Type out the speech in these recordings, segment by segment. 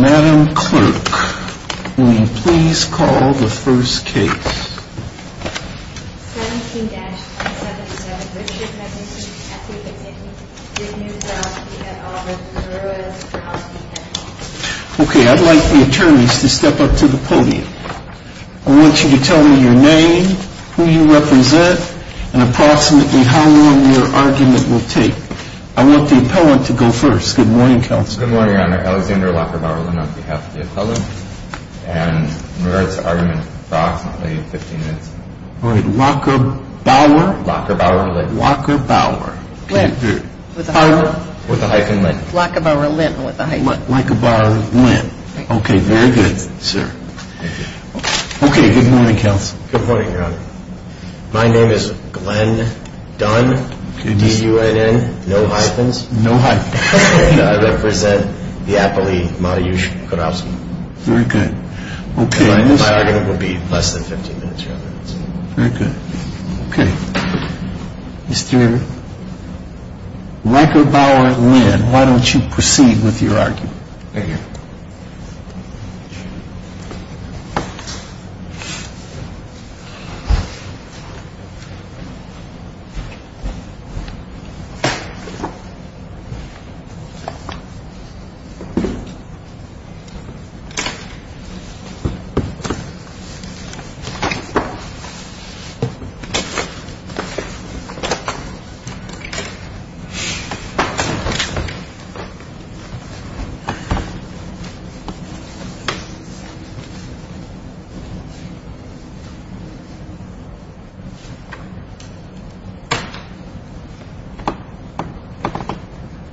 Madam Clerk, will you please call the first case? 17-277 Richard McNicki v. Kurowski Okay, I'd like the attorneys to step up to the podium. I want you to tell me your name, who you represent, and approximately how long your argument will take. I want the appellant to go first. Good morning, Counsel. Good morning, Your Honor. Alexander Lockerbauer-Lent on behalf of the appellant. And in regards to argument, approximately 15 minutes. All right. Lockerbauer? Lockerbauer-Lent. Lockerbauer. Lent. With a hyphen. With a hyphen, Lent. Lockerbauer-Lent with a hyphen. Lockerbauer-Lent. Okay, very good, sir. Thank you. Okay, good morning, Counsel. Good morning, Your Honor. My name is Glenn Dunn, D-U-N-N, no hyphens. No hyphens. And I represent the appellate, Matiush Kurowski. Very good. My argument will be less than 15 minutes, Your Honor. Very good. Okay, Mr. Lockerbauer-Lent, why don't you proceed with your argument? Thank you. Thank you.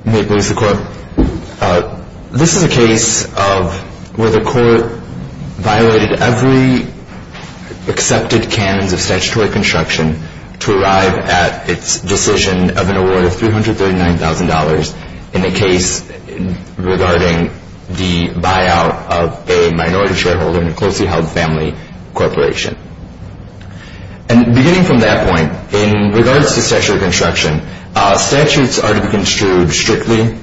May it please the Court. This is a case of where the Court violated every accepted canons of statutory construction to arrive at its decision of an award of $339,000 in a case regarding the buyout of a minority shareholder in a closely held family corporation. And beginning from that point, in regards to statutory construction, statutes are to be construed strictly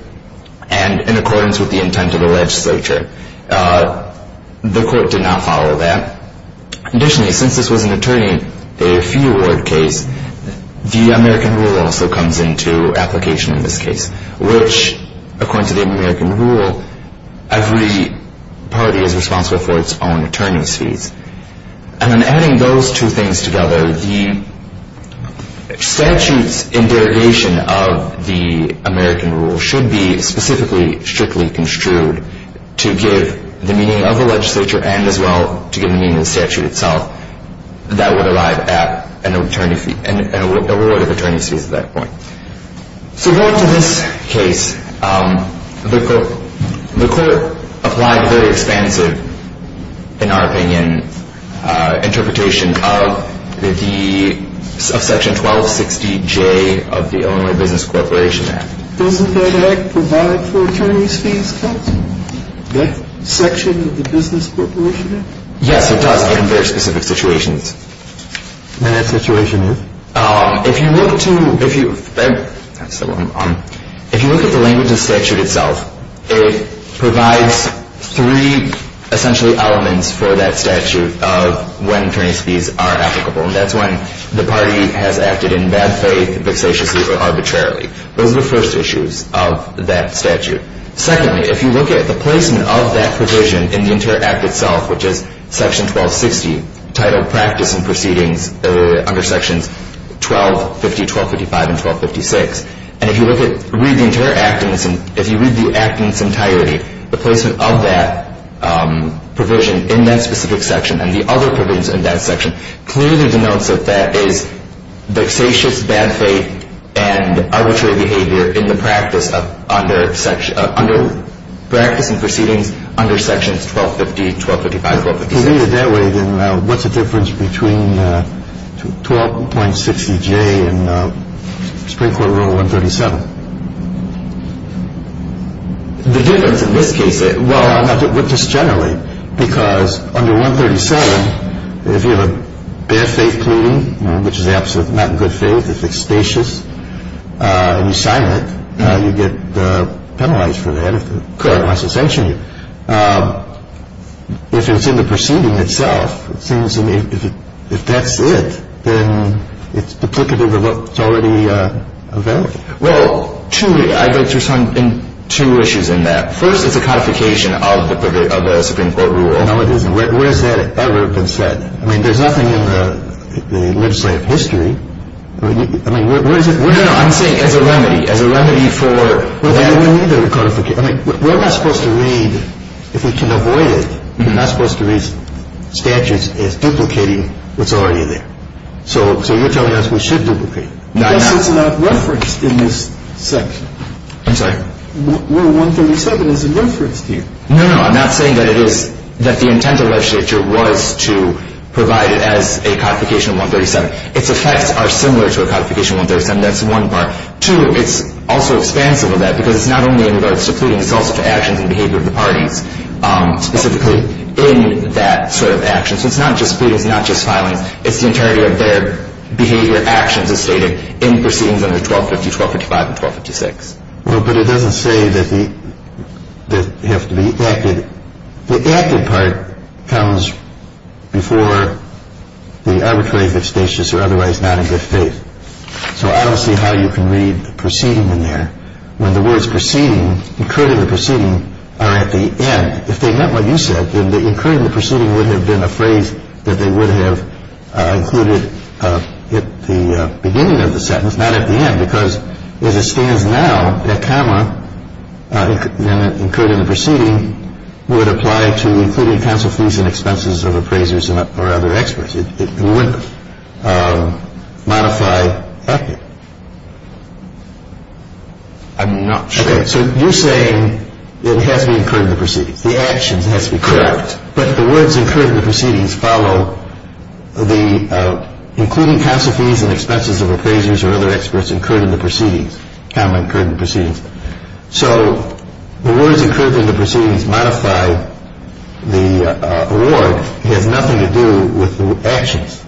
and in accordance with the intent of the legislature. The Court did not follow that. Additionally, since this was an attorney fee award case, the American Rule also comes into application in this case, which, according to the American Rule, every party is responsible for its own attorney's fees. And in adding those two things together, the statutes in derogation of the American Rule should be specifically strictly construed to give the meaning of the legislature and, as well, to give meaning to the statute itself that would arrive at an award of attorney's fees at that point. So going to this case, the Court applied very expansive, in our opinion, interpretation of Section 1260J of the Illinois Business Corporation Act. Doesn't that act provide for attorney's fees cuts? That section of the Business Corporation Act? Yes, it does, in very specific situations. And that situation is? If you look at the language of the statute itself, it provides three essential elements for that statute of when attorney's fees are applicable. That's when the party has acted in bad faith, vexatiously, or arbitrarily. Those are the first issues of that statute. Secondly, if you look at the placement of that provision in the entire act itself, which is Section 1260, titled Practice and Proceedings under Sections 1250, 1255, and 1256, and if you read the entire act in its entirety, the placement of that provision in that specific section and the other provisions in that section clearly denotes that that is vexatious, bad faith, and arbitrary behavior in the Practice and Proceedings under Sections 1250, 1255, and 1256. If you read it that way, then what's the difference between 1260J and Supreme Court Rule 137? The difference in this case? Well, just generally, because under 137, if you have a bad faith pleading, which is absolutely not in good faith, it's vexatious, and you sign it, you get penalized for that unless they sanction you. If it's in the proceeding itself, if that's it, then it's duplicative of what's already available. Well, I'd like to respond in two issues in that. First is the codification of the Supreme Court Rule. No, it isn't. Where has that ever been set? I mean, there's nothing in the legislative history. I mean, where is it? No, no, I'm saying as a remedy, as a remedy for that. Well, then we need the codification. I mean, we're not supposed to read, if we can avoid it, we're not supposed to read statutes as duplicating what's already there. So you're telling us we should duplicate. Because it's not referenced in this section. I'm sorry? Rule 137 is in reference to you. No, no, I'm not saying that it is, that the intent of the legislature was to provide it as a codification of 137. Its effects are similar to a codification of 137. That's one part. Two, it's also expansive of that because it's not only in regards to pleading, it's also to actions and behavior of the parties, specifically in that sort of action. So it's not just pleading, it's not just filing. It's the entirety of their behavior, actions, as stated in proceedings under 1250, 1255, and 1256. Well, but it doesn't say that they have to be acted. The active part comes before the arbitrary, vexatious, or otherwise not in good faith. So I don't see how you can read the proceeding in there when the words proceeding, incurred in the proceeding, are at the end. If they meant what you said, then the incurred in the proceeding would have been a phrase that they would have included at the beginning of the sentence, not at the end. Because as it stands now, that comma, incurred in the proceeding, would apply to including counsel fees and expenses of appraisers or other experts. It wouldn't modify. I'm not sure. So you're saying it has to be incurred in the proceedings. The actions has to be correct. Correct. But the words incurred in the proceedings follow the including counsel fees and expenses of appraisers or other experts incurred in the proceedings, comma incurred in the proceedings. So the words incurred in the proceedings modify the award. It has nothing to do with the actions.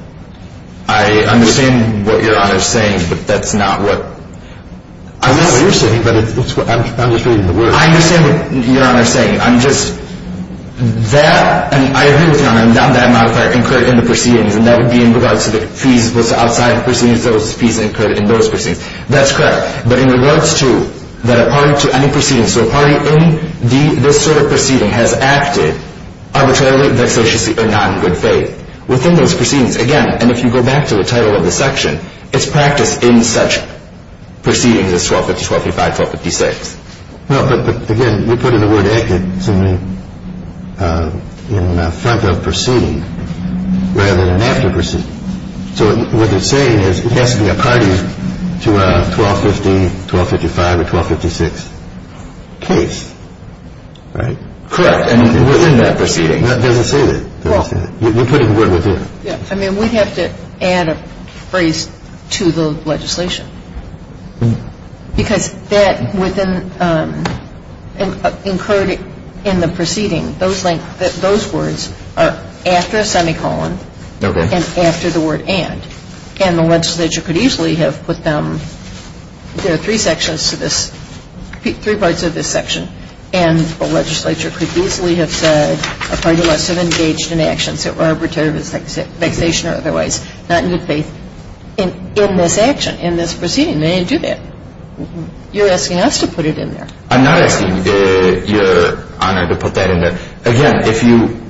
I understand what Your Honor is saying, but that's not what I'm saying. I know what you're saying, but I'm just reading the words. I understand what Your Honor is saying. I'm just, that, I agree with Your Honor, that modifier, incurred in the proceedings, and that would be in regards to the fees outside the proceedings, those fees incurred in those proceedings. That's correct. But in regards to, that a party to any proceedings, so a party in this sort of proceeding has acted arbitrarily, vexatiously, or not in good faith. Within those proceedings, again, and if you go back to the title of the section, it's practiced in such proceedings as 1250, 1255, 1256. No, but again, you're putting the word acted in front of proceeding rather than after proceeding. So what you're saying is it has to be a party to a 1250, 1255, or 1256 case, right? Correct. And within that proceeding. It doesn't say that. It doesn't say that. You're putting the word within. Yeah. I mean, we'd have to add a phrase to the legislation. Because that within, incurred in the proceeding, those words are after a semicolon and after the word and. And the legislature could easily have put them, there are three sections to this, three parts of this section, and the legislature could easily have said a party must have engaged in actions that were arbitrary, vexation or otherwise, not in good faith. In this action, in this proceeding, they didn't do that. You're asking us to put it in there. I'm not asking you, Your Honor, to put that in there. Again, if you,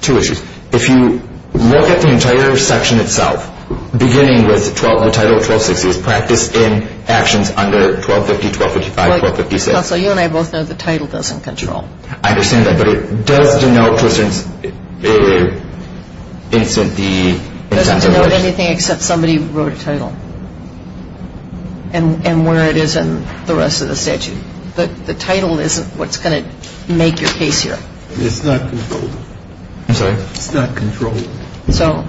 two issues. If you look at the entire section itself, beginning with the title of 1260, it's practiced in actions under 1250, 1255, 1256. Also, you and I both know the title doesn't control. I understand that. But it does denote to a certain instant the. It doesn't denote anything except somebody wrote a title. And where it is in the rest of the statute. But the title isn't what's going to make your case here. It's not controlled. I'm sorry? It's not controlled. So?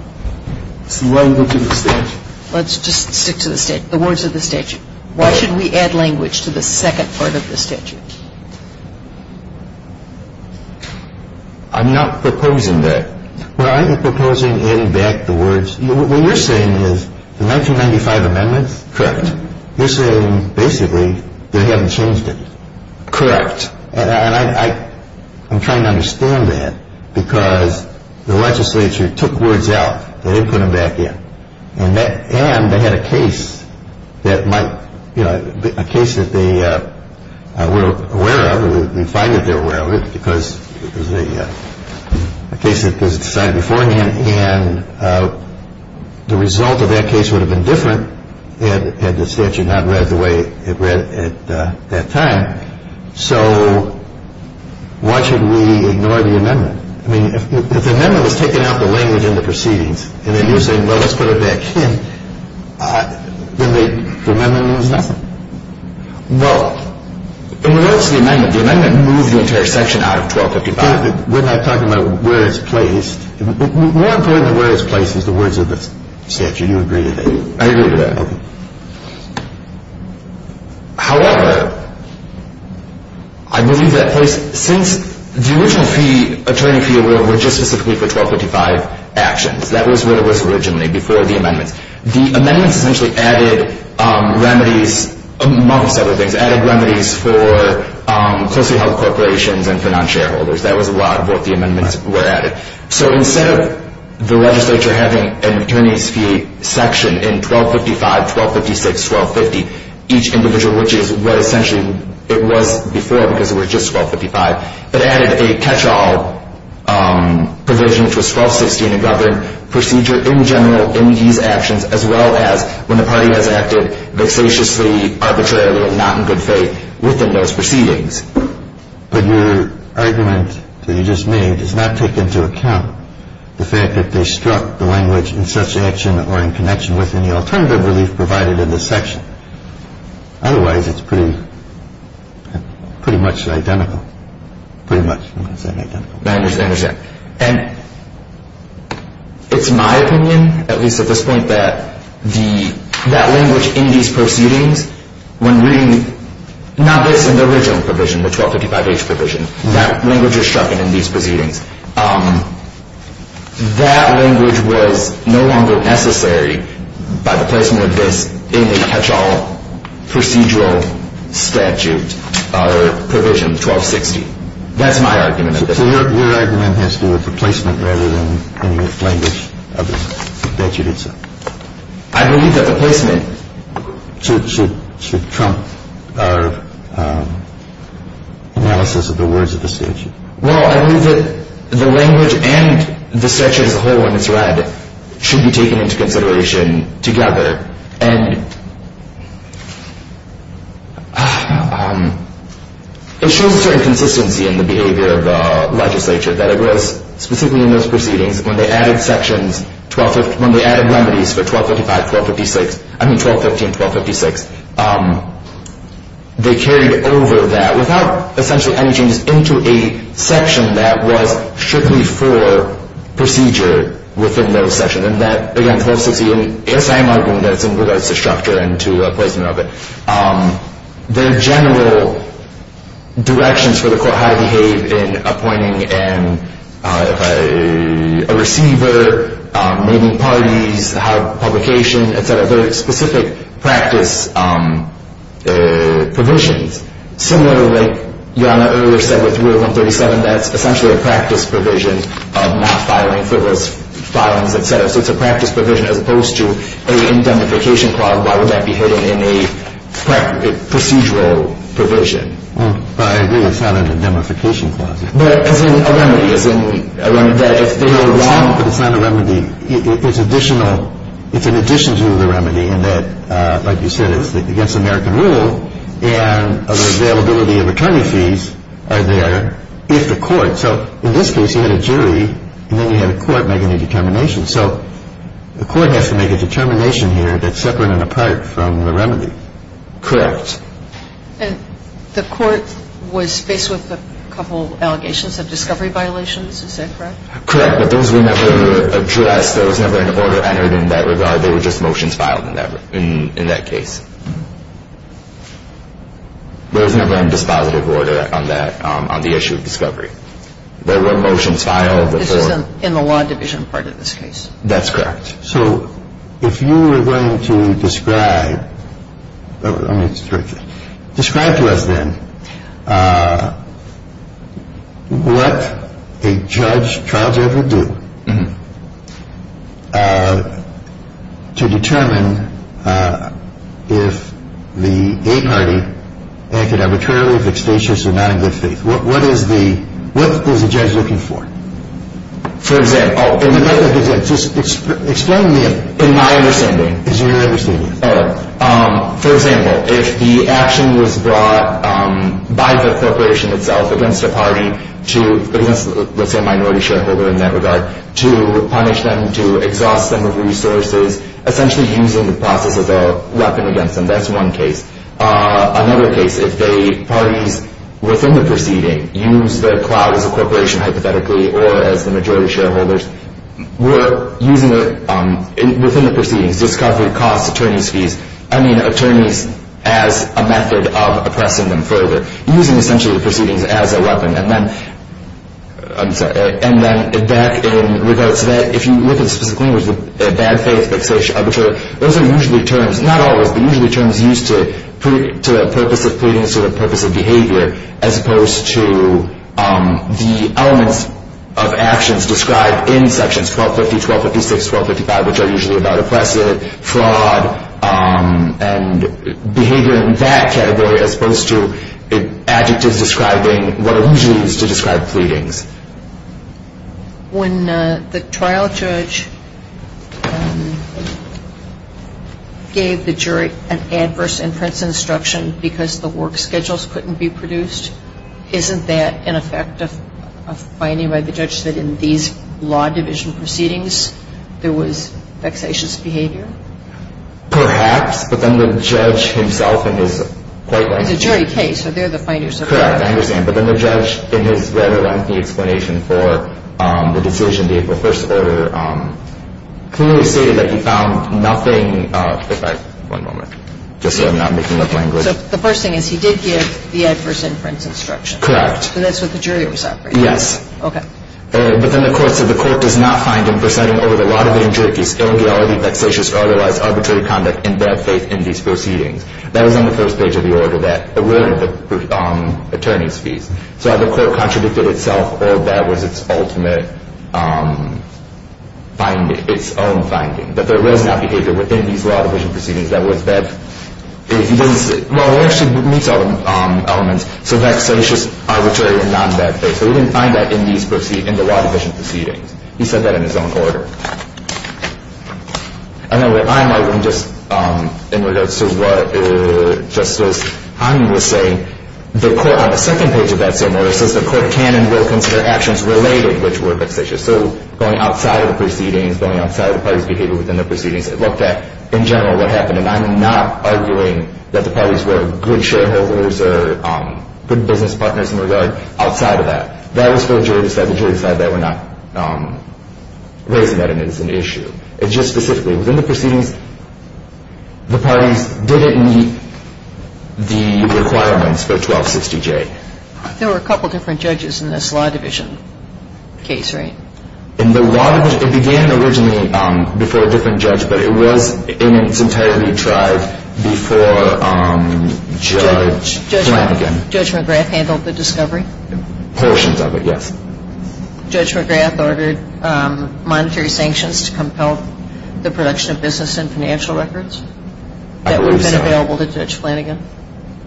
It's the language of the statute. Let's just stick to the words of the statute. Why should we add language to the second part of the statute? I'm not proposing that. Well, I'm proposing adding back the words. What you're saying is the 1995 amendments. Correct. You're saying basically they haven't changed it. Correct. And I'm trying to understand that because the legislature took words out. They didn't put them back in. And they had a case that might, you know, a case that they were aware of. We find that they were aware of it because it was a case that was decided beforehand. And the result of that case would have been different had the statute not read the way it read at that time. So why should we ignore the amendment? I mean, if the amendment was taking out the language in the proceedings and then you're saying, well, let's put it back in, then the amendment means nothing. Well, in regards to the amendment, the amendment moved the entire section out of 1255. We're not talking about where it's placed. More important than where it's placed is the words of the statute. Do you agree with that? I agree with that. Okay. However, I believe that since the original fee, attorney fee, were just specifically for 1255 actions. That was what it was originally before the amendments. The amendments essentially added remedies, amongst other things, added remedies for closely held corporations and for non-shareholders. That was a lot of what the amendments were added. So instead of the legislature having an attorney's fee section in 1255, 1256, 1250, each individual which is what essentially it was before because it was just 1255, it added a catch-all provision which was 1260 in the government procedure in general in these actions, as well as when the party has acted vexatiously, arbitrarily, or not in good faith within those proceedings. But your argument that you just made does not take into account the fact that they struck the language in such action or in connection with any alternative relief provided in this section. Otherwise, it's pretty much identical. Pretty much, I wouldn't say identical. I understand. And it's my opinion, at least at this point, that that language in these proceedings, when reading not this in the original provision, the 1255H provision, that language is struck in these proceedings. That language was no longer necessary by the placement of this in the catch-all procedural statute or provision 1260. That's my argument. So your argument has to do with the placement rather than the language of the dechiritsa. I believe that the placement should trump our analysis of the words of the statute. Well, I believe that the language and the statute as a whole, when it's read, should be taken into consideration together. And it shows a certain consistency in the behavior of the legislature, that it was specifically in those proceedings when they added sections, when they added remedies for 1255, 1256, I mean 1250 and 1256, they carried over that without, essentially, any changes into a section that was strictly for procedure within those sections. And that, again, 1260 is my argument that it's in regards to structure and to placement of it. The general directions for the court how to behave in appointing a receiver, moving parties, how publication, et cetera, and the specific practice provisions. Similar to what Your Honor earlier said with Rule 137, that's essentially a practice provision of not filing for those filings, et cetera. So it's a practice provision as opposed to a indemnification clause. Why would that be hidden in a procedural provision? Well, I agree. It's not an indemnification clause. But as in a remedy, as in that if they were wrong. But it's not a remedy. It's an addition to the remedy in that, like you said, it's against American rule and the availability of attorney fees are there if the court. So in this case, you had a jury and then you had a court making a determination. So the court has to make a determination here that's separate and apart from the remedy. Correct. And the court was faced with a couple allegations of discovery violations. Is that correct? Correct. But those were never addressed. There was never an order entered in that regard. They were just motions filed in that case. There was never a dispositive order on that, on the issue of discovery. There were motions filed before. This is in the law division part of this case. That's correct. So if you were going to describe, let me correct this, describe to us then what a judge, trial judge would do to determine if the A party acted arbitrarily, if it's facious or not in good faith. What is the, what is the judge looking for? For example, just explain to me in my understanding. It's in your understanding. All right. For example, if the action was brought by the corporation itself against a party to, let's say a minority shareholder in that regard, to punish them, to exhaust them of resources, essentially using the process as a weapon against them. That's one case. Another case, if the parties within the proceeding use the clout as a corporation hypothetically or as the majority shareholders were using it within the proceedings, discovery costs, attorney's fees, I mean attorneys as a method of oppressing them further, using essentially the proceedings as a weapon. And then, I'm sorry, and then back in regards to that, if you look at the specific language, the bad faith, facious, arbitrary, those are usually terms, not always, but usually terms used to, to the purpose of pleadings or the purpose of behavior, as opposed to the elements of actions described in sections 1250, 1256, 1255, which are usually about oppressive, fraud, and behavior in that category, as opposed to adjectives describing what are usually used to describe pleadings. When the trial judge gave the jury an adverse inference instruction because the work schedules couldn't be produced, isn't that in effect a finding by the judge that in these law division proceedings, there was vexatious behavior? Perhaps, but then the judge himself in his point of view. It's a jury case, so they're the finders of that. Correct, I understand. But then the judge in his rather lengthy explanation for the decision, the April 1st order, clearly stated that he found nothing. If I, one moment. Just so I'm not making up language. So the first thing is he did give the adverse inference instruction? Correct. And that's what the jury was operating on? Yes. Okay. But then the court said the court does not find in presenting over the law division jury case illegality, vexatious or otherwise arbitrary conduct in bad faith in these proceedings. That was on the first page of the order that alerted the attorney's fees. So either the court contradicted itself or that was its ultimate finding, its own finding, that there was not behavior within these law division proceedings that was that, well, it actually meets all the elements. So vexatious, arbitrary, and non-bad faith. So he didn't find that in the law division proceedings. He said that in his own order. And then what I'm arguing just in regards to what Justice Hahn was saying, the court on the second page of that same order says the court can and will consider actions related which were vexatious. So going outside of the proceedings, going outside of the parties' behavior within the proceedings, it looked at in general what happened. And I'm not arguing that the parties were good shareholders or good business partners in regard outside of that. That was for the jury to decide. The jury decided they were not raising that as an issue. It's just specifically within the proceedings, the parties didn't meet the requirements for 1260J. There were a couple different judges in this law division case, right? In the law division, it began originally before a different judge, but it was in its entirety tried before Judge Flanagan. Judge McGrath handled the discovery? Portions of it, yes. Judge McGrath ordered monetary sanctions to compel the production of business and financial records? I believe so. That would have been available to Judge Flanagan?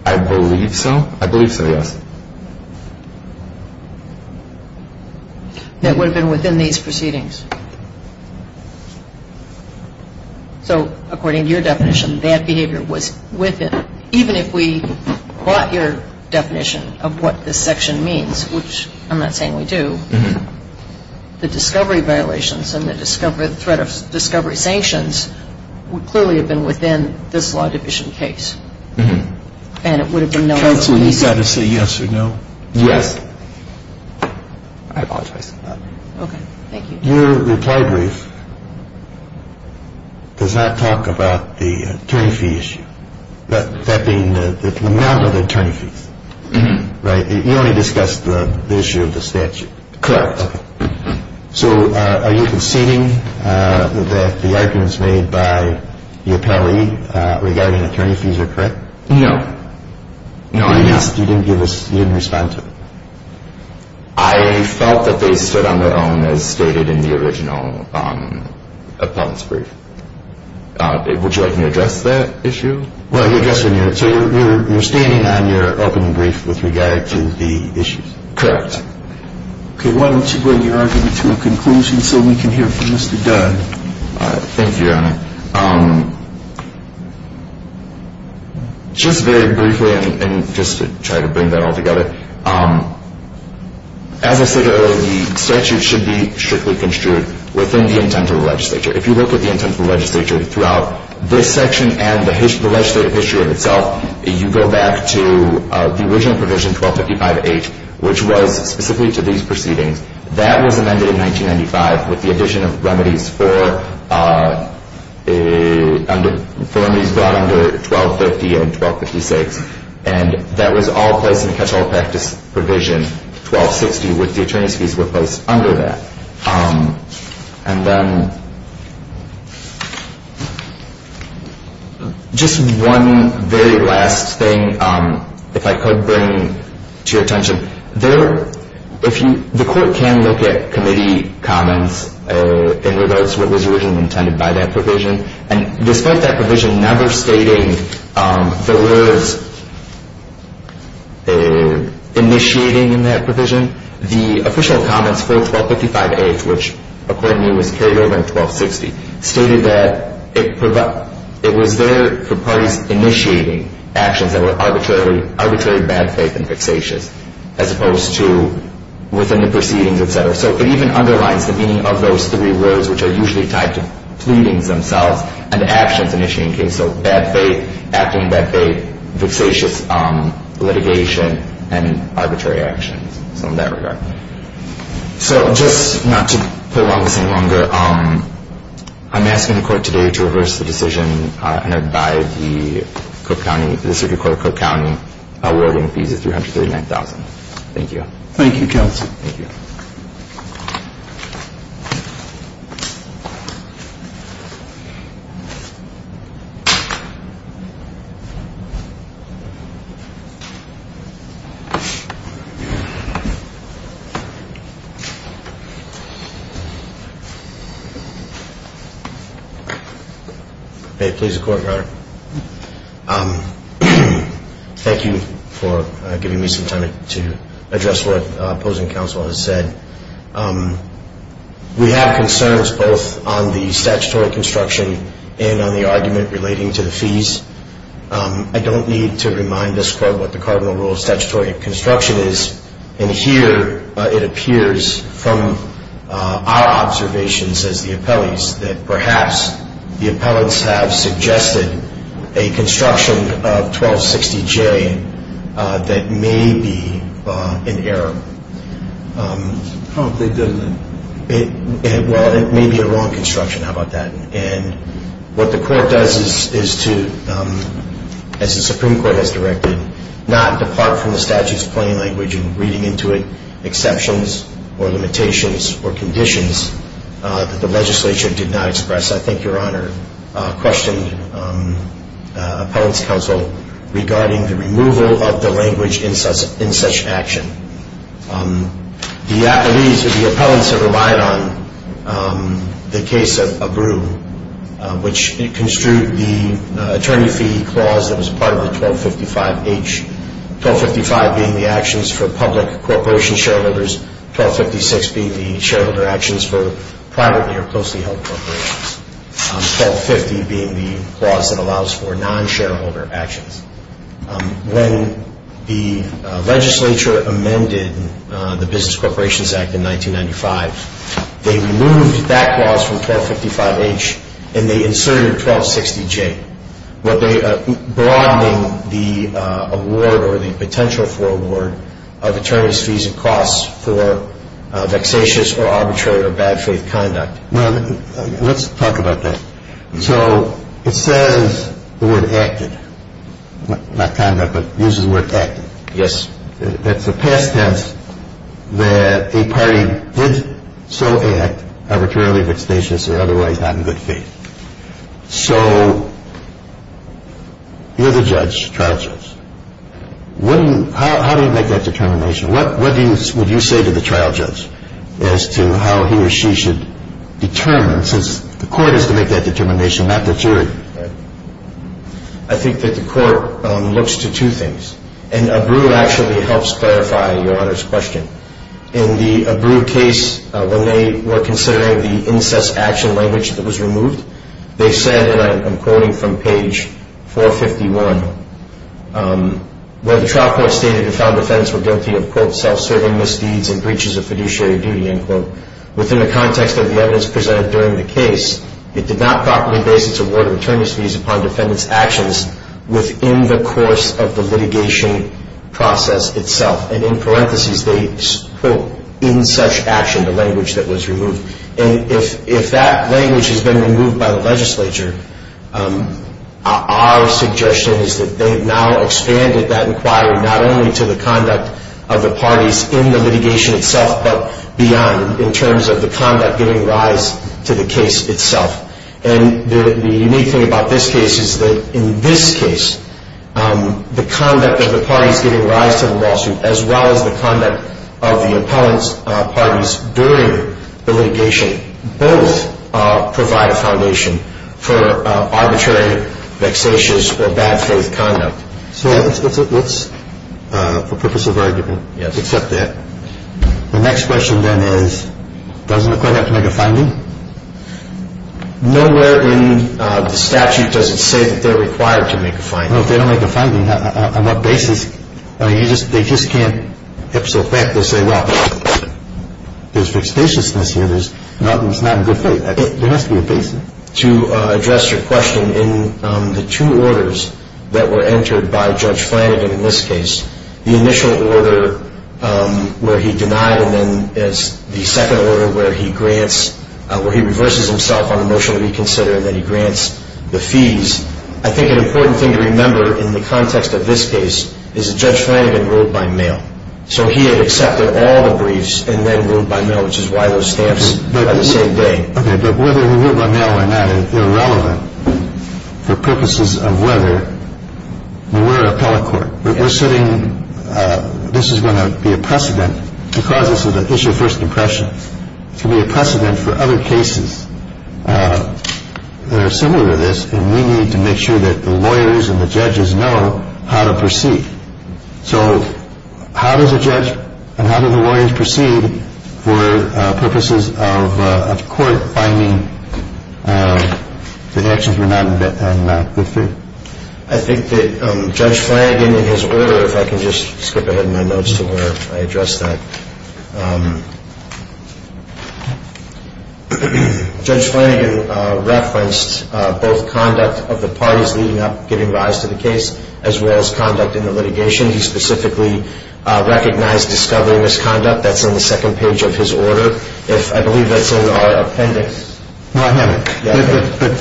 I believe so. I believe so, yes. That would have been within these proceedings? So according to your definition, that behavior was within, even if we brought your definition of what this section means, which I'm not saying we do, the discovery violations and the threat of discovery sanctions would clearly have been within this law division case. And it would have been known. Counsel, you've got to say yes or no. Yes. I apologize. Okay. Thank you. Your reply brief does not talk about the attorney fee issue, that being the amount of the attorney fees, right? You only discussed the issue of the statute. Correct. Okay. So are you conceding that the arguments made by the appellee regarding attorney fees are correct? No. No, I am not. You didn't give us, you didn't respond to it? I felt that they stood on their own as stated in the original appellant's brief. Would you like me to address that issue? Well, you're standing on your opening brief with regard to the issues. Correct. Okay. Why don't you bring your argument to a conclusion so we can hear from Mr. Dunn? Thank you, Your Honor. Just very briefly, and just to try to bring that all together, as I said earlier, the statute should be strictly construed within the intent of the legislature. If you look at the intent of the legislature throughout this section and the legislative history of itself, you go back to the original provision, 1255H, which was specifically to these proceedings. That was amended in 1995 with the addition of remedies for remedies brought under 1250 and 1256, and that was all placed in the catch-all practice provision 1260 with the attorney's fees were placed under that. And then just one very last thing, if I could bring to your attention. The court can look at committee comments in regards to what was originally intended by that provision, and despite that provision never stating there was initiating in that provision, the official comments for 1255H, which according to me was carried over in 1260, stated that it was there for parties initiating actions that were arbitrarily bad faith and vexatious, as opposed to within the proceedings, et cetera. So it even underlines the meaning of those three words, which are usually tied to pleadings themselves and actions initiated in case of bad faith, acting in bad faith, vexatious litigation, and arbitrary actions. So in that regard. So just not to prolong this any longer, I'm asking the court today to reverse the decision and abide by the circuit court of Cook County awarding fees of $339,000. Thank you. Thank you, counsel. Thank you. May it please the court, Your Honor. Thank you for giving me some time to address what opposing counsel has said. We have concerns both on the statutory construction and on the argument relating to the fees. I don't need to remind this court what the cardinal rule of statutory construction is. And here it appears from our observations as the appellees that perhaps the appellants have suggested a construction of 1260J that may be an error. I don't think they did. Well, it may be a wrong construction. How about that? And what the court does is to, as the Supreme Court has directed, not depart from the statute's plain language in reading into it exceptions or limitations or conditions that the legislature did not express. I think Your Honor questioned appellant's counsel regarding the removal of the language in such action. The appellants have relied on the case of Abru, which construed the attorney fee clause that was part of the 1255H, 1255 being the actions for public corporation shareholders, 1256 being the shareholder actions for privately or closely held corporations, 1250 being the clause that allows for non-shareholder actions. When the legislature amended the Business Corporations Act in 1995, they removed that clause from 1255H and they inserted 1260J, broadening the award or the potential for award of attorney's fees and costs for vexatious or arbitrary or bad faith conduct. Well, let's talk about that. So it says the word acted, not conduct, but uses the word acted. Yes. That's a past tense that a party did so act arbitrarily, vexatious or otherwise not in good faith. So you're the judge, trial judge. How do you make that determination? What would you say to the trial judge as to how he or she should determine, since the court is to make that determination, not the jury? I think that the court looks to two things. And ABRU actually helps clarify Your Honor's question. In the ABRU case, when they were considering the incest action language that was removed, they said, and I'm quoting from page 451, where the trial court stated the felon defendants were guilty of, quote, self-serving misdeeds and breaches of fiduciary duty, end quote. Within the context of the evidence presented during the case, it did not properly base its award of attorney's fees upon defendants' actions within the course of the litigation process itself. And in parentheses, they quote, in such action, the language that was removed. And if that language has been removed by the legislature, our suggestion is that they've now expanded that inquiry not only to the conduct of the parties in the litigation itself, but beyond in terms of the conduct giving rise to the case itself. And the unique thing about this case is that in this case, the conduct of the parties giving rise to the lawsuit, as well as the conduct of the opponents' parties during the litigation, both provide a foundation for arbitrary, vexatious, or bad faith conduct. So let's, for purpose of argument, accept that. The next question then is, doesn't the court have to make a finding? Nowhere in the statute does it say that they're required to make a finding. No, if they don't make a finding, on what basis? I mean, they just can't episode back. They'll say, well, there's vexatiousness here. There's nothing that's not in good faith. There has to be a basis. To address your question, in the two orders that were entered by Judge Flanagan in this case, the initial order where he denied, and then the second order where he reverses himself on a motion to reconsider, and then he grants the fees, I think an important thing to remember in the context of this case is that Judge Flanagan ruled by mail. So he had accepted all the briefs and then ruled by mail, which is why those stamps are the same day. Okay, but whether he ruled by mail or not, they're relevant for purposes of whether we're an appellate court. We're sitting. This is going to be a precedent because this is an issue of first impression. It can be a precedent for other cases that are similar to this. And we need to make sure that the lawyers and the judges know how to proceed. So how does a judge and how do the lawyers proceed for purposes of court finding the actions were not in good faith? I think that Judge Flanagan in his order, if I can just skip ahead in my notes to where I address that. Judge Flanagan referenced both conduct of the parties leading up, giving rise to the case, as well as conduct in the litigation. He specifically recognized discovery misconduct. That's in the second page of his order. If I believe that's in our appendix.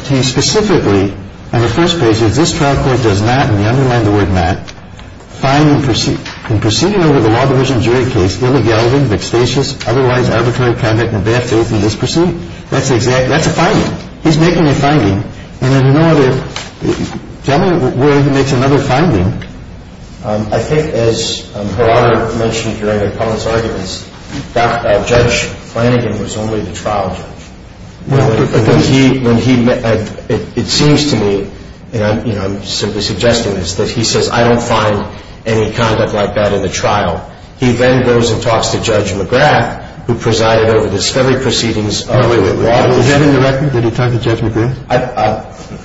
He specifically, in the first page, says this trial court does not, and we underline the word not, in proceeding over the Law Division jury case, illegally, vexatious, otherwise arbitrary conduct in a bad faith in this proceeding. That's a finding. He's making a finding. And in another word, he makes another finding. I think as Her Honor mentioned during her comments, Judge Flanagan was only the trial judge. It seems to me, and I'm simply suggesting this, that he says, I don't find any conduct like that in the trial. He then goes and talks to Judge McGrath, who presided over the discovery proceedings. Did he talk to Judge McGrath? Okay.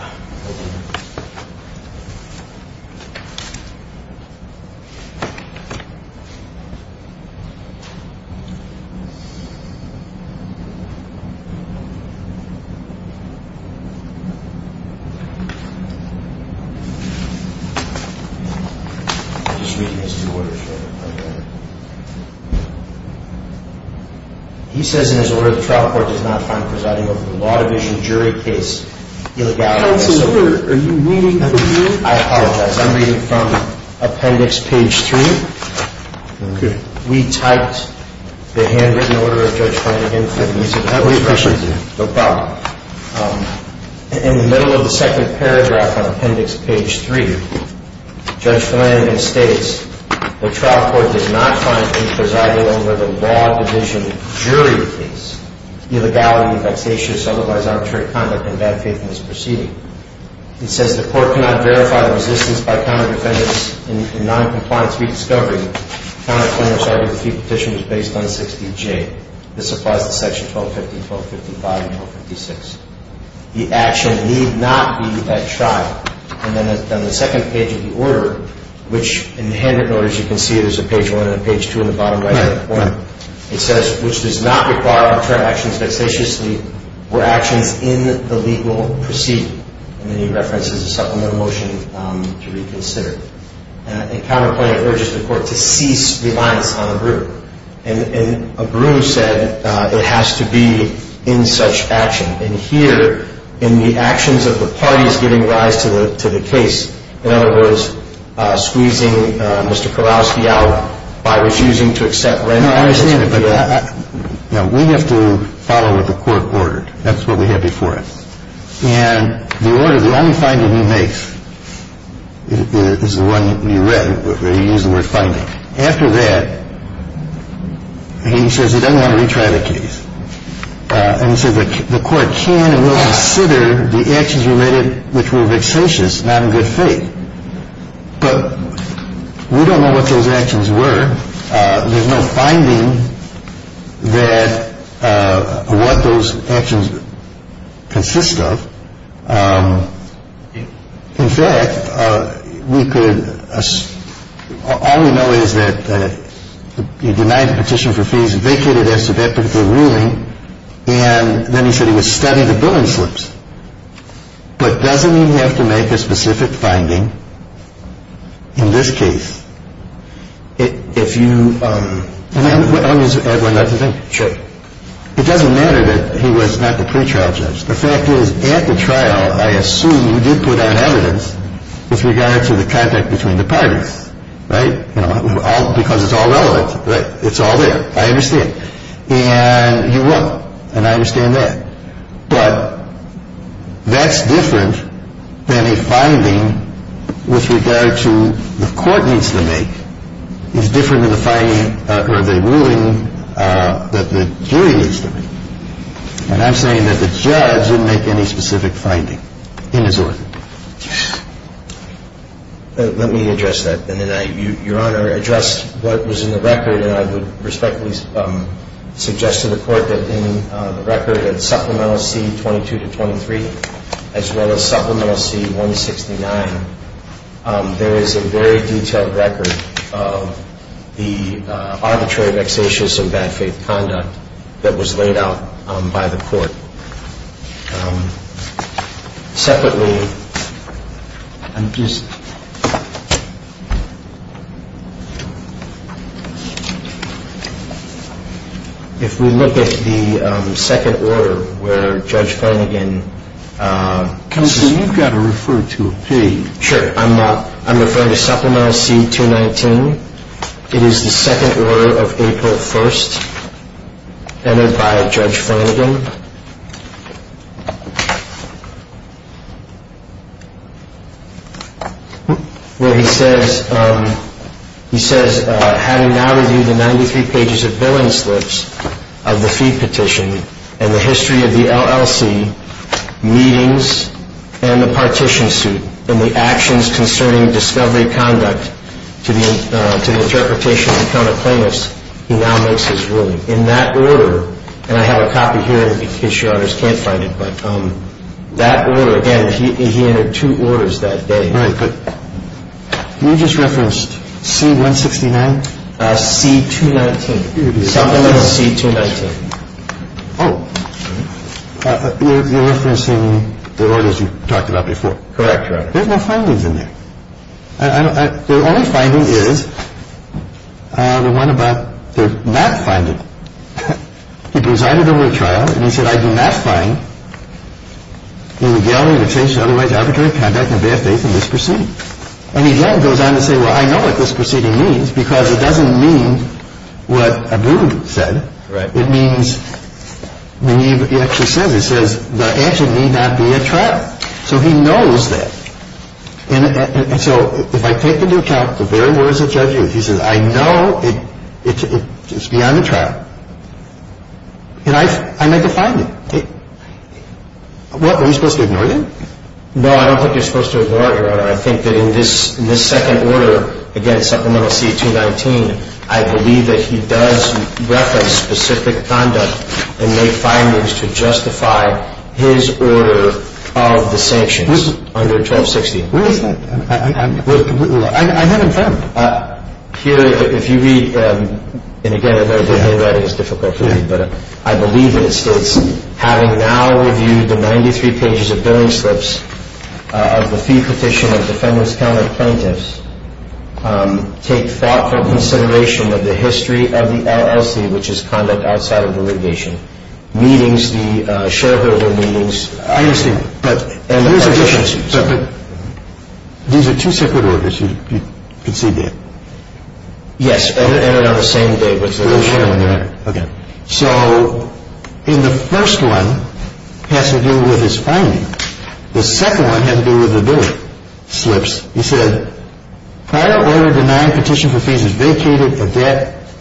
I'm just reading his two orders here. Okay. He says in his order, the trial court does not find presiding over the Law Division jury case illegal. Counselor, are you reading this? I apologize. I'm reading from appendix page three. Okay. We typed the handwritten order of Judge Flanagan. No problem. In the middle of the second paragraph on appendix page three, Judge Flanagan states, the trial court does not find any presiding over the Law Division jury case, illegality, vexatious, otherwise arbitrary conduct in a bad faith in this proceeding. He says the court cannot verify the resistance by counter defendants in noncompliance rediscovery. Counter plaintiffs argue the Petition was based on 60-J. This applies to section 1250, 1255, and 1256. The action need not be at trial. And then on the second page of the order, which in the handwritten order, as you can see, there's a page one and a page two in the bottom right-hand corner. It says, which does not require off-term actions vexatiously or actions in the legal proceeding. And then he references a supplemental motion to reconsider. And counter plaintiff urges the court to cease reliance on abru. And abru said it has to be in such action. And here, in the actions of the parties giving rise to the case, in other words, squeezing Mr. Kowalski out by refusing to accept rent. No, I understand, but we have to follow what the court ordered. That's what we had before us. And the order, the only finding he makes is the one you read where you use the word finding. After that, he says he doesn't want to retry the case. And so the court can and will consider the actions related, which were vexatious, not in good faith. But we don't know what those actions were. There's no finding that what those actions consist of. In fact, we could assume, all we know is that he denied the petition for fees, vacated as to that particular ruling, and then he said he was studying the billing slips. But doesn't he have to make a specific finding in this case if you? Let me add one other thing. Sure. It doesn't matter that he was not the pretrial judge. The fact is, at the trial, I assume you did put out evidence with regard to the contact between the parties. Right. Because it's all relevant. Right. It's all there. I understand. And you won't. And I understand that. But that's different than a finding with regard to the court needs to make. It's different than the finding or the ruling that the jury needs to make. And I'm saying that the judge didn't make any specific finding in his order. Let me address that. And then I, Your Honor, address what was in the record. And I would respectfully suggest to the Court that in the record at Supplemental C-22 to 23, as well as Supplemental C-169, there is a very detailed record of the arbitrary vexatious and bad faith conduct that was laid out by the Court. Separately, if we look at the second order where Judge Flanagan? Counsel, you've got to refer to a page. Sure. I'm referring to Supplemental C-219. It is the second order of April 1st, entered by Judge Flanagan. Where he says, having now reviewed the 93 pages of billing slips of the fee petition and the history of the LLC, meetings, and the partition suit, and the actions concerning discovery conduct to the interpretation of the count of plaintiffs, he now makes his ruling. In that order, and I have a copy here in case Your Honors can't find it, but that order, again, he entered two orders that day. Right. But you just referenced C-169? C-219. Supplemental C-219. Oh. You're referencing the orders you talked about before. Correct, Your Honor. There's no findings in there. The only finding is the one about the not finding. He presided over a trial, and he said, I do not find illegal, imitation, otherwise arbitrary conduct in bad faith in this proceeding. And he then goes on to say, well, I know what this proceeding means, because it doesn't mean what Abu said. Right. It means, when he actually says it, it says the action need not be at trial. So he knows that. And so, if I take into account the very words of Judge Hughes, he says, I know it's beyond the trial. And I defined it. What, were you supposed to ignore that? No, I don't think you're supposed to ignore it, Your Honor. I think that in this second order, again, supplemental C-219, I believe that he does reference specific conduct and make findings to justify his order of the sanctions under 1260. Where is that? I haven't found it. Here, if you read, and again, I know the handwriting is difficult for you, but I believe that it states, having now reviewed the 93 pages of billing slips of the fee petition of defendants, I've found that plaintiffs take thoughtful consideration of the history of the LLC, which is conduct outside of the litigation, meetings, the shareholder meetings. I understand. But these are two separate orders, you conceded. Yes. And they are the same day. Okay. So the first one has to do with his finding. The second one has to do with the billing slips. He said prior order denying petition for fees is vacated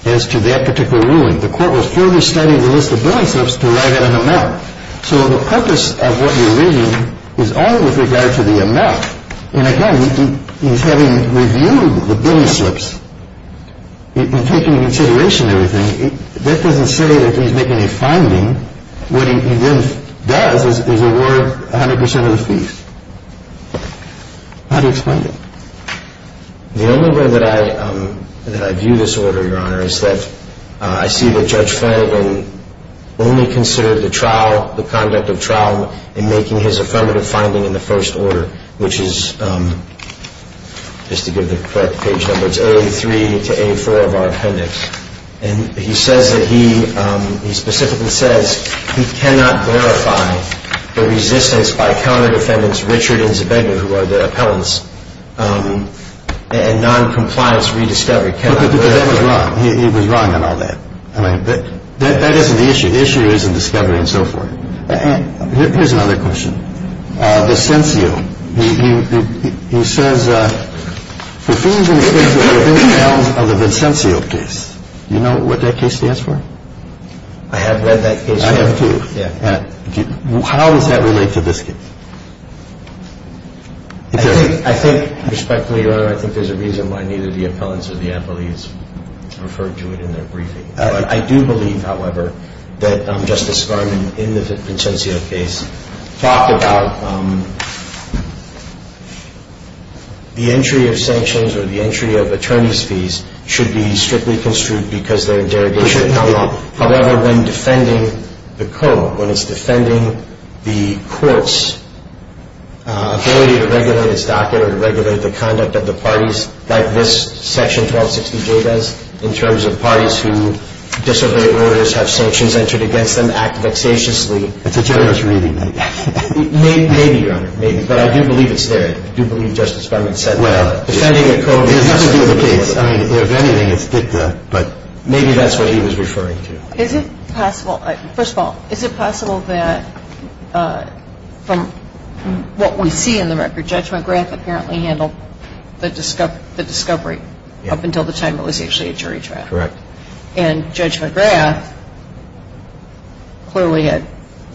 as to that particular ruling. The court will further study the list of billing slips to write out an amount. So the purpose of what you're reading is only with regard to the amount. And, again, he's having reviewed the billing slips and taking into consideration everything. That doesn't say that he's making a finding. What he then does is award 100 percent of the fees. How do you explain that? The only way that I view this order, Your Honor, is that I see that Judge Felden only considered the trial, and making his affirmative finding in the first order, which is, just to give the correct page number, it's A3 to A4 of our appendix. And he says that he specifically says he cannot verify the resistance by counter defendants Richard and Zabega, who are the appellants, and noncompliance rediscovery. But that was wrong. He was wrong on all that. That isn't the issue. The issue is in discovery and so forth. And there's no other question. Vincencio, he says the fees in the case are within bounds of a Vincencio case. Do you know what that case stands for? I have read that case, Your Honor. I have too. How does that relate to this case? I think, with respect to the order, I think there's a reason why neither the appellants or the appellees referred to it in their briefing. I do believe, however, that Justice Garmon, in the Vincencio case, talked about the entry of sanctions or the entry of attorney's fees should be strictly construed because they're derogation. However, when defending the court, when it's defending the court's ability to regulate its docket or to regulate the conduct of the parties, like this Section 1260J does, in terms of parties who disobey orders, have sanctions entered against them, act vexatiously. It's a generous reading. Maybe, Your Honor, maybe. But I do believe it's there. I do believe Justice Garmon said that. Well, it has nothing to do with the case. I mean, if anything, it's dicta. But maybe that's what he was referring to. Is it possible – first of all, is it possible that from what we see in the record, Judge McGrath apparently handled the discovery up until the time it was actually a jury trial? Correct. And Judge McGrath clearly had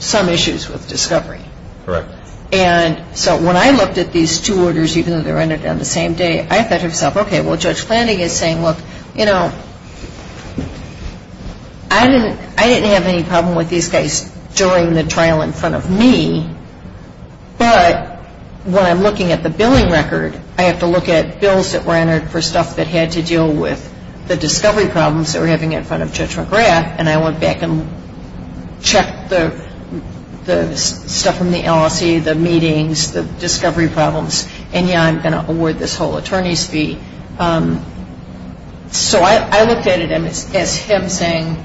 some issues with discovery. Correct. And so when I looked at these two orders, even though they were entered on the same day, I thought to myself, okay, well, Judge Flanding is saying, look, you know, I didn't have any problem with these guys during the trial in front of me. But when I'm looking at the billing record, I have to look at bills that were entered for stuff that had to deal with the discovery problems that we're having in front of Judge McGrath, and I went back and checked the stuff from the LLC, the meetings, the discovery problems, and, yeah, I'm going to award this whole attorney's fee. So I looked at it as him saying,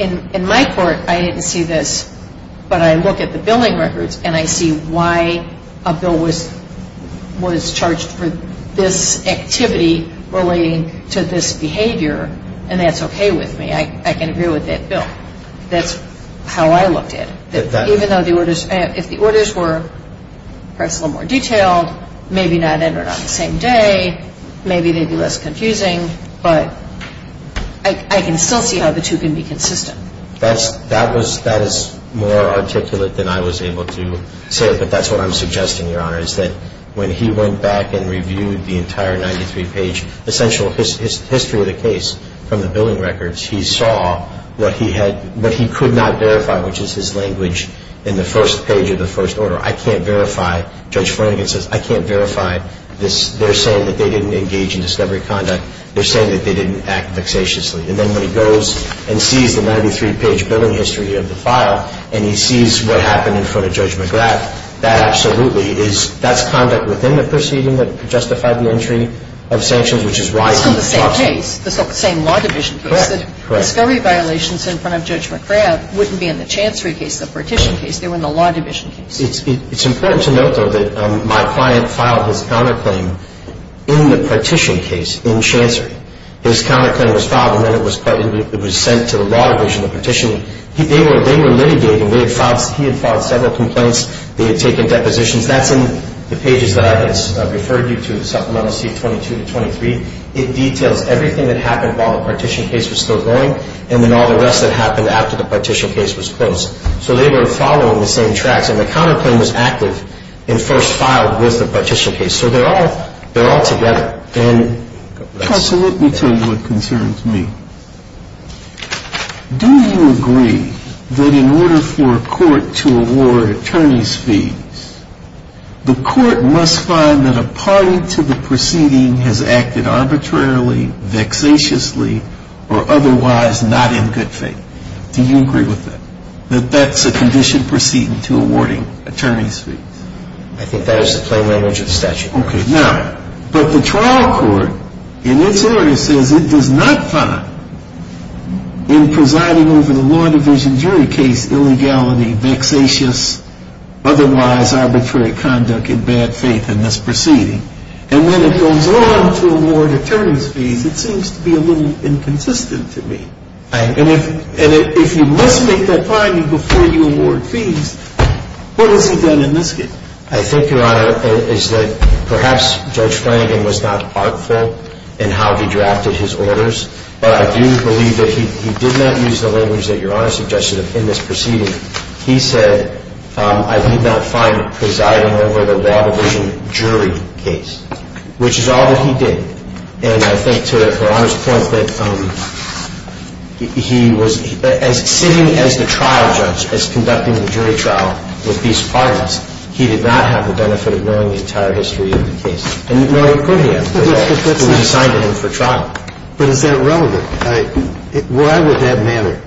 in my court, I didn't see this, but I look at the billing records and I see why a bill was charged for this activity relating to this behavior, and that's okay with me. I can agree with that bill. That's how I looked at it. Even though if the orders were perhaps a little more detailed, maybe not entered on the same day, maybe they'd be less confusing, but I can still see how the two can be consistent. That is more articulate than I was able to say it, but that's what I'm suggesting, Your Honor, is that when he went back and reviewed the entire 93-page essential history of the case from the billing records, he saw what he could not verify, which is his language in the first page of the first order. I can't verify. Judge Flanagan says, I can't verify. They're saying that they didn't engage in discovery conduct. They're saying that they didn't act vexatiously. And then when he goes and sees the 93-page billing history of the file and he sees what happened in front of Judge McGrath, that absolutely is, that's conduct within the proceeding that justified the entry of sanctions, which is why he talks. It's still the same case, the same law division case. Correct. The discovery violations in front of Judge McGrath wouldn't be in the Chancery case, the Partition case. They were in the law division case. It's important to note, though, that my client filed his counterclaim in the Partition case in Chancery. His counterclaim was filed and then it was sent to the law division, the Partition. They were litigating. He had filed several complaints. They had taken depositions. That's in the pages that I referred you to, Supplemental C22-23. It details everything that happened while the Partition case was still going and then all the rest that happened after the Partition case was closed. So they were following the same tracks. And the counterclaim was active and first filed with the Partition case. So they're all together. Now, let me tell you what concerns me. Do you agree that in order for a court to award attorney's fees, the court must find that a party to the proceeding has acted arbitrarily, vexatiously, or otherwise not in good faith? Do you agree with that, that that's a conditioned proceeding to awarding attorney's fees? I think that is the plain language of the statute. Okay. Now, but the trial court in this area says it does not find in presiding over the law division jury case illegality, vexatious, otherwise arbitrary conduct in bad faith in this proceeding. And when it goes on to award attorney's fees, it seems to be a little inconsistent to me. And if you must make that finding before you award fees, what is it done in this case? I think, Your Honor, is that perhaps Judge Flanagan was not artful in how he drafted his orders. But I do believe that he did not use the language that Your Honor suggested in this proceeding. He said, I did not find presiding over the law division jury case, which is all that he did. And I think to Your Honor's point that he was sitting as the trial judge, He did not have the benefit of knowing the entire history of the case as conducting the jury trial with these partners. He did not have the benefit of knowing the entire history of the case. And no, he could have. But he was assigned to him for trial. But is that relevant? Why would that matter?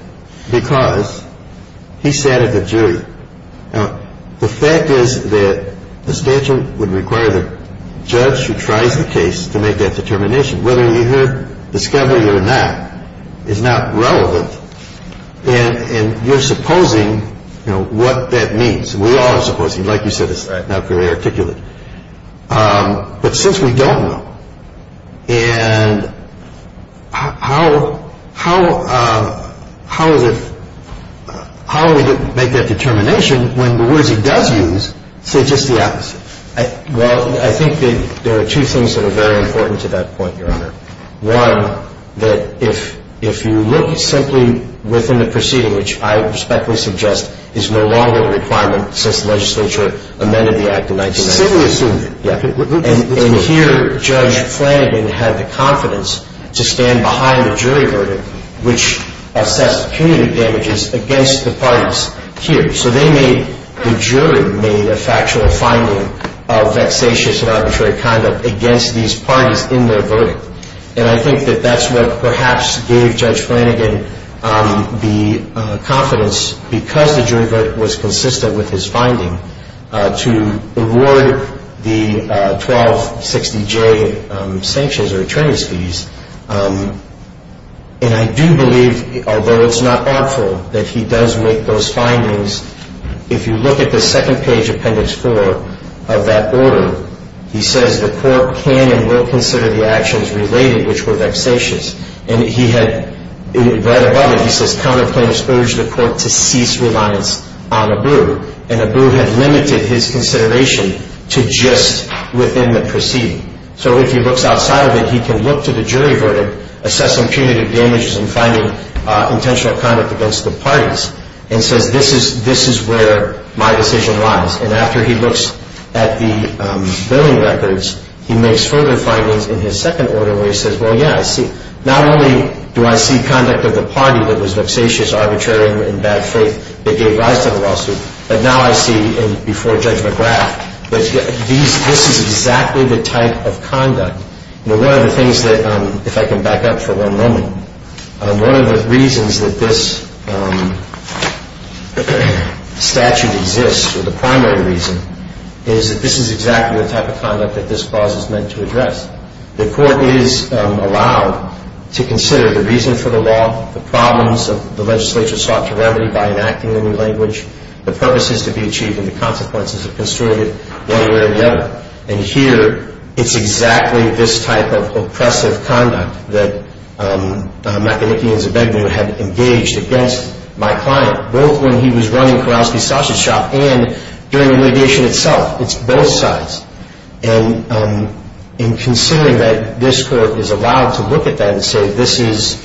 Because he sat at the jury. Now, the fact is that the statute would require the judge who tries the case to make that determination. Whether you hear discovery or not is not relevant. And you're supposing, you know, what that means. We all are supposing, like you said, it's not very articulate. But since we don't know, and how is it, how do we make that determination when the words he does use say just the opposite? Well, I think there are two things that are very important to that point, Your Honor. One, that if you look simply within the proceeding, which I respectfully suggest is no longer a requirement since the legislature amended the act in 1994. And here Judge Flanagan had the confidence to stand behind the jury verdict, which assessed punitive damages against the parties here. So they made, the jury made a factual finding of vexatious and arbitrary conduct against these parties in their verdict. And I think that that's what perhaps gave Judge Flanagan the confidence, because the jury verdict was consistent with his finding, to award the 1260J sanctions or attorneys' fees. And I do believe, although it's not artful, that he does make those findings. If you look at the second page of Appendix 4 of that order, he says the court can and will consider the actions related, which were vexatious. And he had, right above it, he says counter plaintiffs urged the court to cease reliance on Abu. And Abu had limited his consideration to just within the proceeding. So if he looks outside of it, he can look to the jury verdict, assessing punitive damages and finding intentional conduct against the parties. And says, this is where my decision lies. And after he looks at the billing records, he makes further findings in his second order, where he says, well, yeah, I see. Not only do I see conduct of the party that was vexatious, arbitrary, and in bad faith that gave rise to the lawsuit, but now I see, before Judge McGrath, that this is exactly the type of conduct. One of the things that, if I can back up for one moment, one of the reasons that this statute exists, or the primary reason, is that this is exactly the type of conduct that this clause is meant to address. The court is allowed to consider the reason for the law, the problems of the legislature sought to remedy by enacting a new language, the purposes to be achieved, and the consequences of construing it one way or the other. And here, it's exactly this type of oppressive conduct that McEnicky and Zabegnew had engaged against my client, both when he was running Kurowski's Sausage Shop and during the litigation itself. It's both sides. And in considering that, this Court is allowed to look at that and say, this is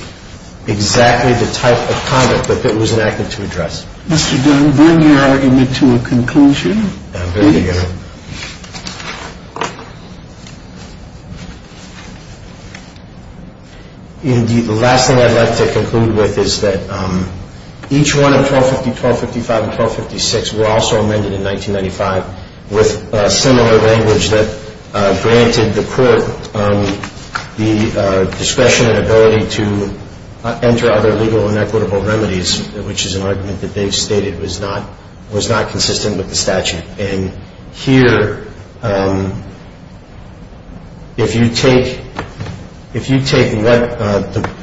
exactly the type of conduct that it was enacted to address. Mr. Dunn, bring your argument to a conclusion. Indeed, the last thing I'd like to conclude with is that each one of 1250, 1255, and 1256 were also amended in 1995 with similar language that granted the court the discretion and ability to enter other legal and equitable remedies, which is an argument that they've stated was not consistent with the statute. And here, if you take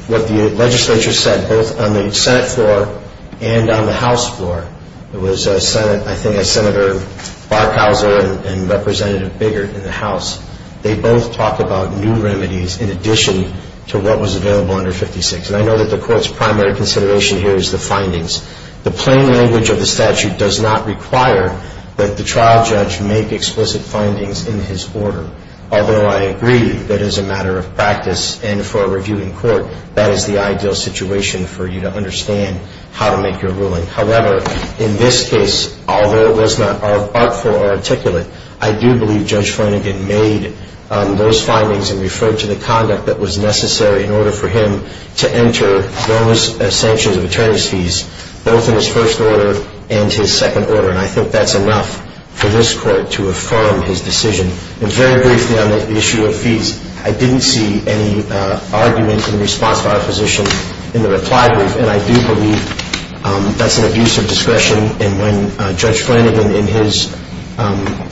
what the legislature said, both on the Senate floor and on the House floor, it was, I think, Senator Barkowzel and Representative Biggert in the House. They both talked about new remedies in addition to what was available under 56. And I know that the Court's primary consideration here is the findings. The plain language of the statute does not require that the trial judge make explicit findings in his order, although I agree that as a matter of practice and for a review in court, that is the ideal situation for you to understand how to make your ruling. However, in this case, although it was not artful or articulate, I do believe Judge Flanagan made those findings and referred to the conduct that was necessary in order for him to enter bonus sanctions of attorney's fees, both in his first order and his second order. And I think that's enough for this Court to affirm his decision. And very briefly on the issue of fees, I didn't see any argument in response to opposition in the reply brief. And I do believe that's an abuse of discretion. And when Judge Flanagan, in his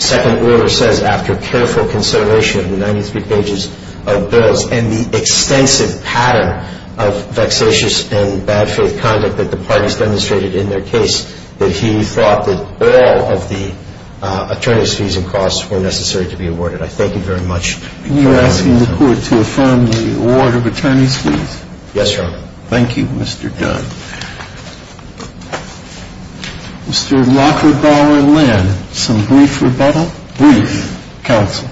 second order, says, after careful consideration of the 93 pages of bills and the extensive pattern of vexatious and bad faith conduct that the parties demonstrated in their case, that he thought that all of the attorney's fees and costs were necessary to be awarded. I thank you very much. Can you ask the Court to affirm the award of attorney's fees? Yes, Your Honor. Thank you, Mr. Dunn. Mr. Lockhart, Bower, and Lynn, some brief rebuttal? Brief counsel.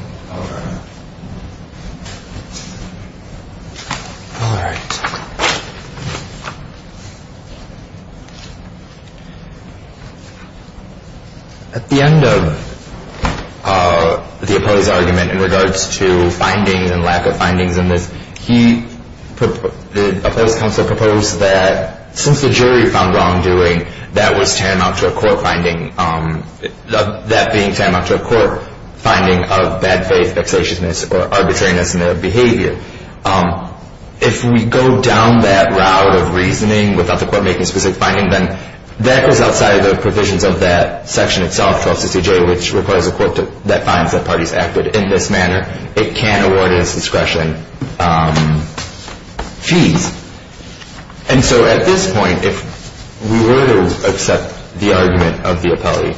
All right. At the end of the opposed argument in regards to findings and lack of findings in this, the opposed counsel proposed that since the jury found wrongdoing, that was tantamount to a court finding, that being tantamount to a court finding of bad faith, vexatiousness, or arbitrariness in their behavior. If we go down that route of reasoning without the Court making a specific finding, then that goes outside of the provisions of that section itself, 1260J, which requires a Court that finds that parties acted in this manner. It can't award it as discretion fees. And so at this point, if we were to accept the argument of the appellee,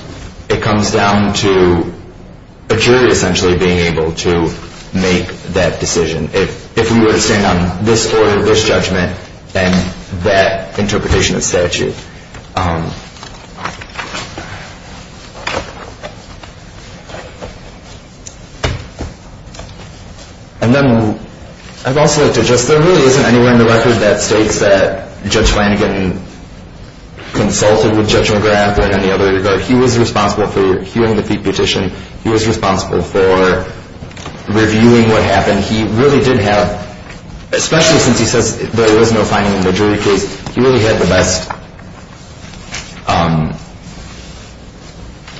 it comes down to a jury essentially being able to make that decision. If we were to stand on this order, this judgment, and that interpretation of statute. And then I'd also like to address, there really isn't anywhere in the record that states that Judge Flanagan consulted with Judge McGrath or in any other regard. He was responsible for hearing the Petition. He was responsible for reviewing what happened. He really did have, especially since he says there was no finding in the jury case, he really had the best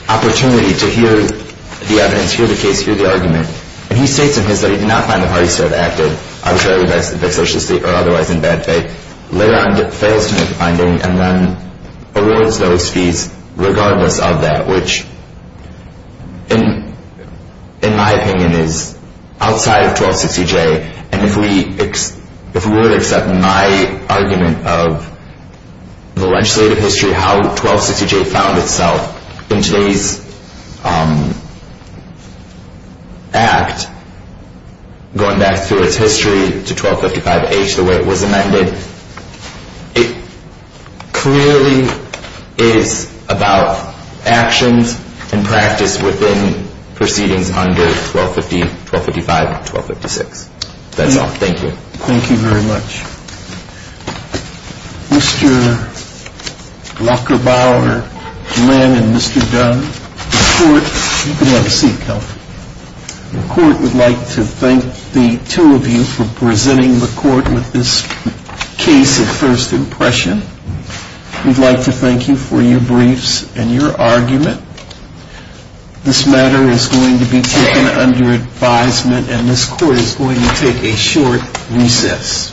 opportunity to hear the evidence, hear the case, hear the argument. And he states in his that he did not find the parties to have acted arbitrarily vexatiously or otherwise in bad faith. Later on, he fails to make the finding and then awards those fees regardless of that, which in my opinion is outside of 1260J. And if we were to accept my argument of the legislative history, how 1260J found itself in today's act, going back through its history to 1255H, the way it was amended, it clearly is about actions and practice within proceedings under 1250, 1255, 1256. That's all. Thank you. Thank you very much. Mr. Lockerbauer, Lynn, and Mr. Dunn, the Court, you can have a seat, Kelly. The Court would like to thank the two of you for presenting the Court with this case of first impression. We'd like to thank you for your briefs and your argument. This matter is going to be taken under advisement and this Court is going to take a short recess.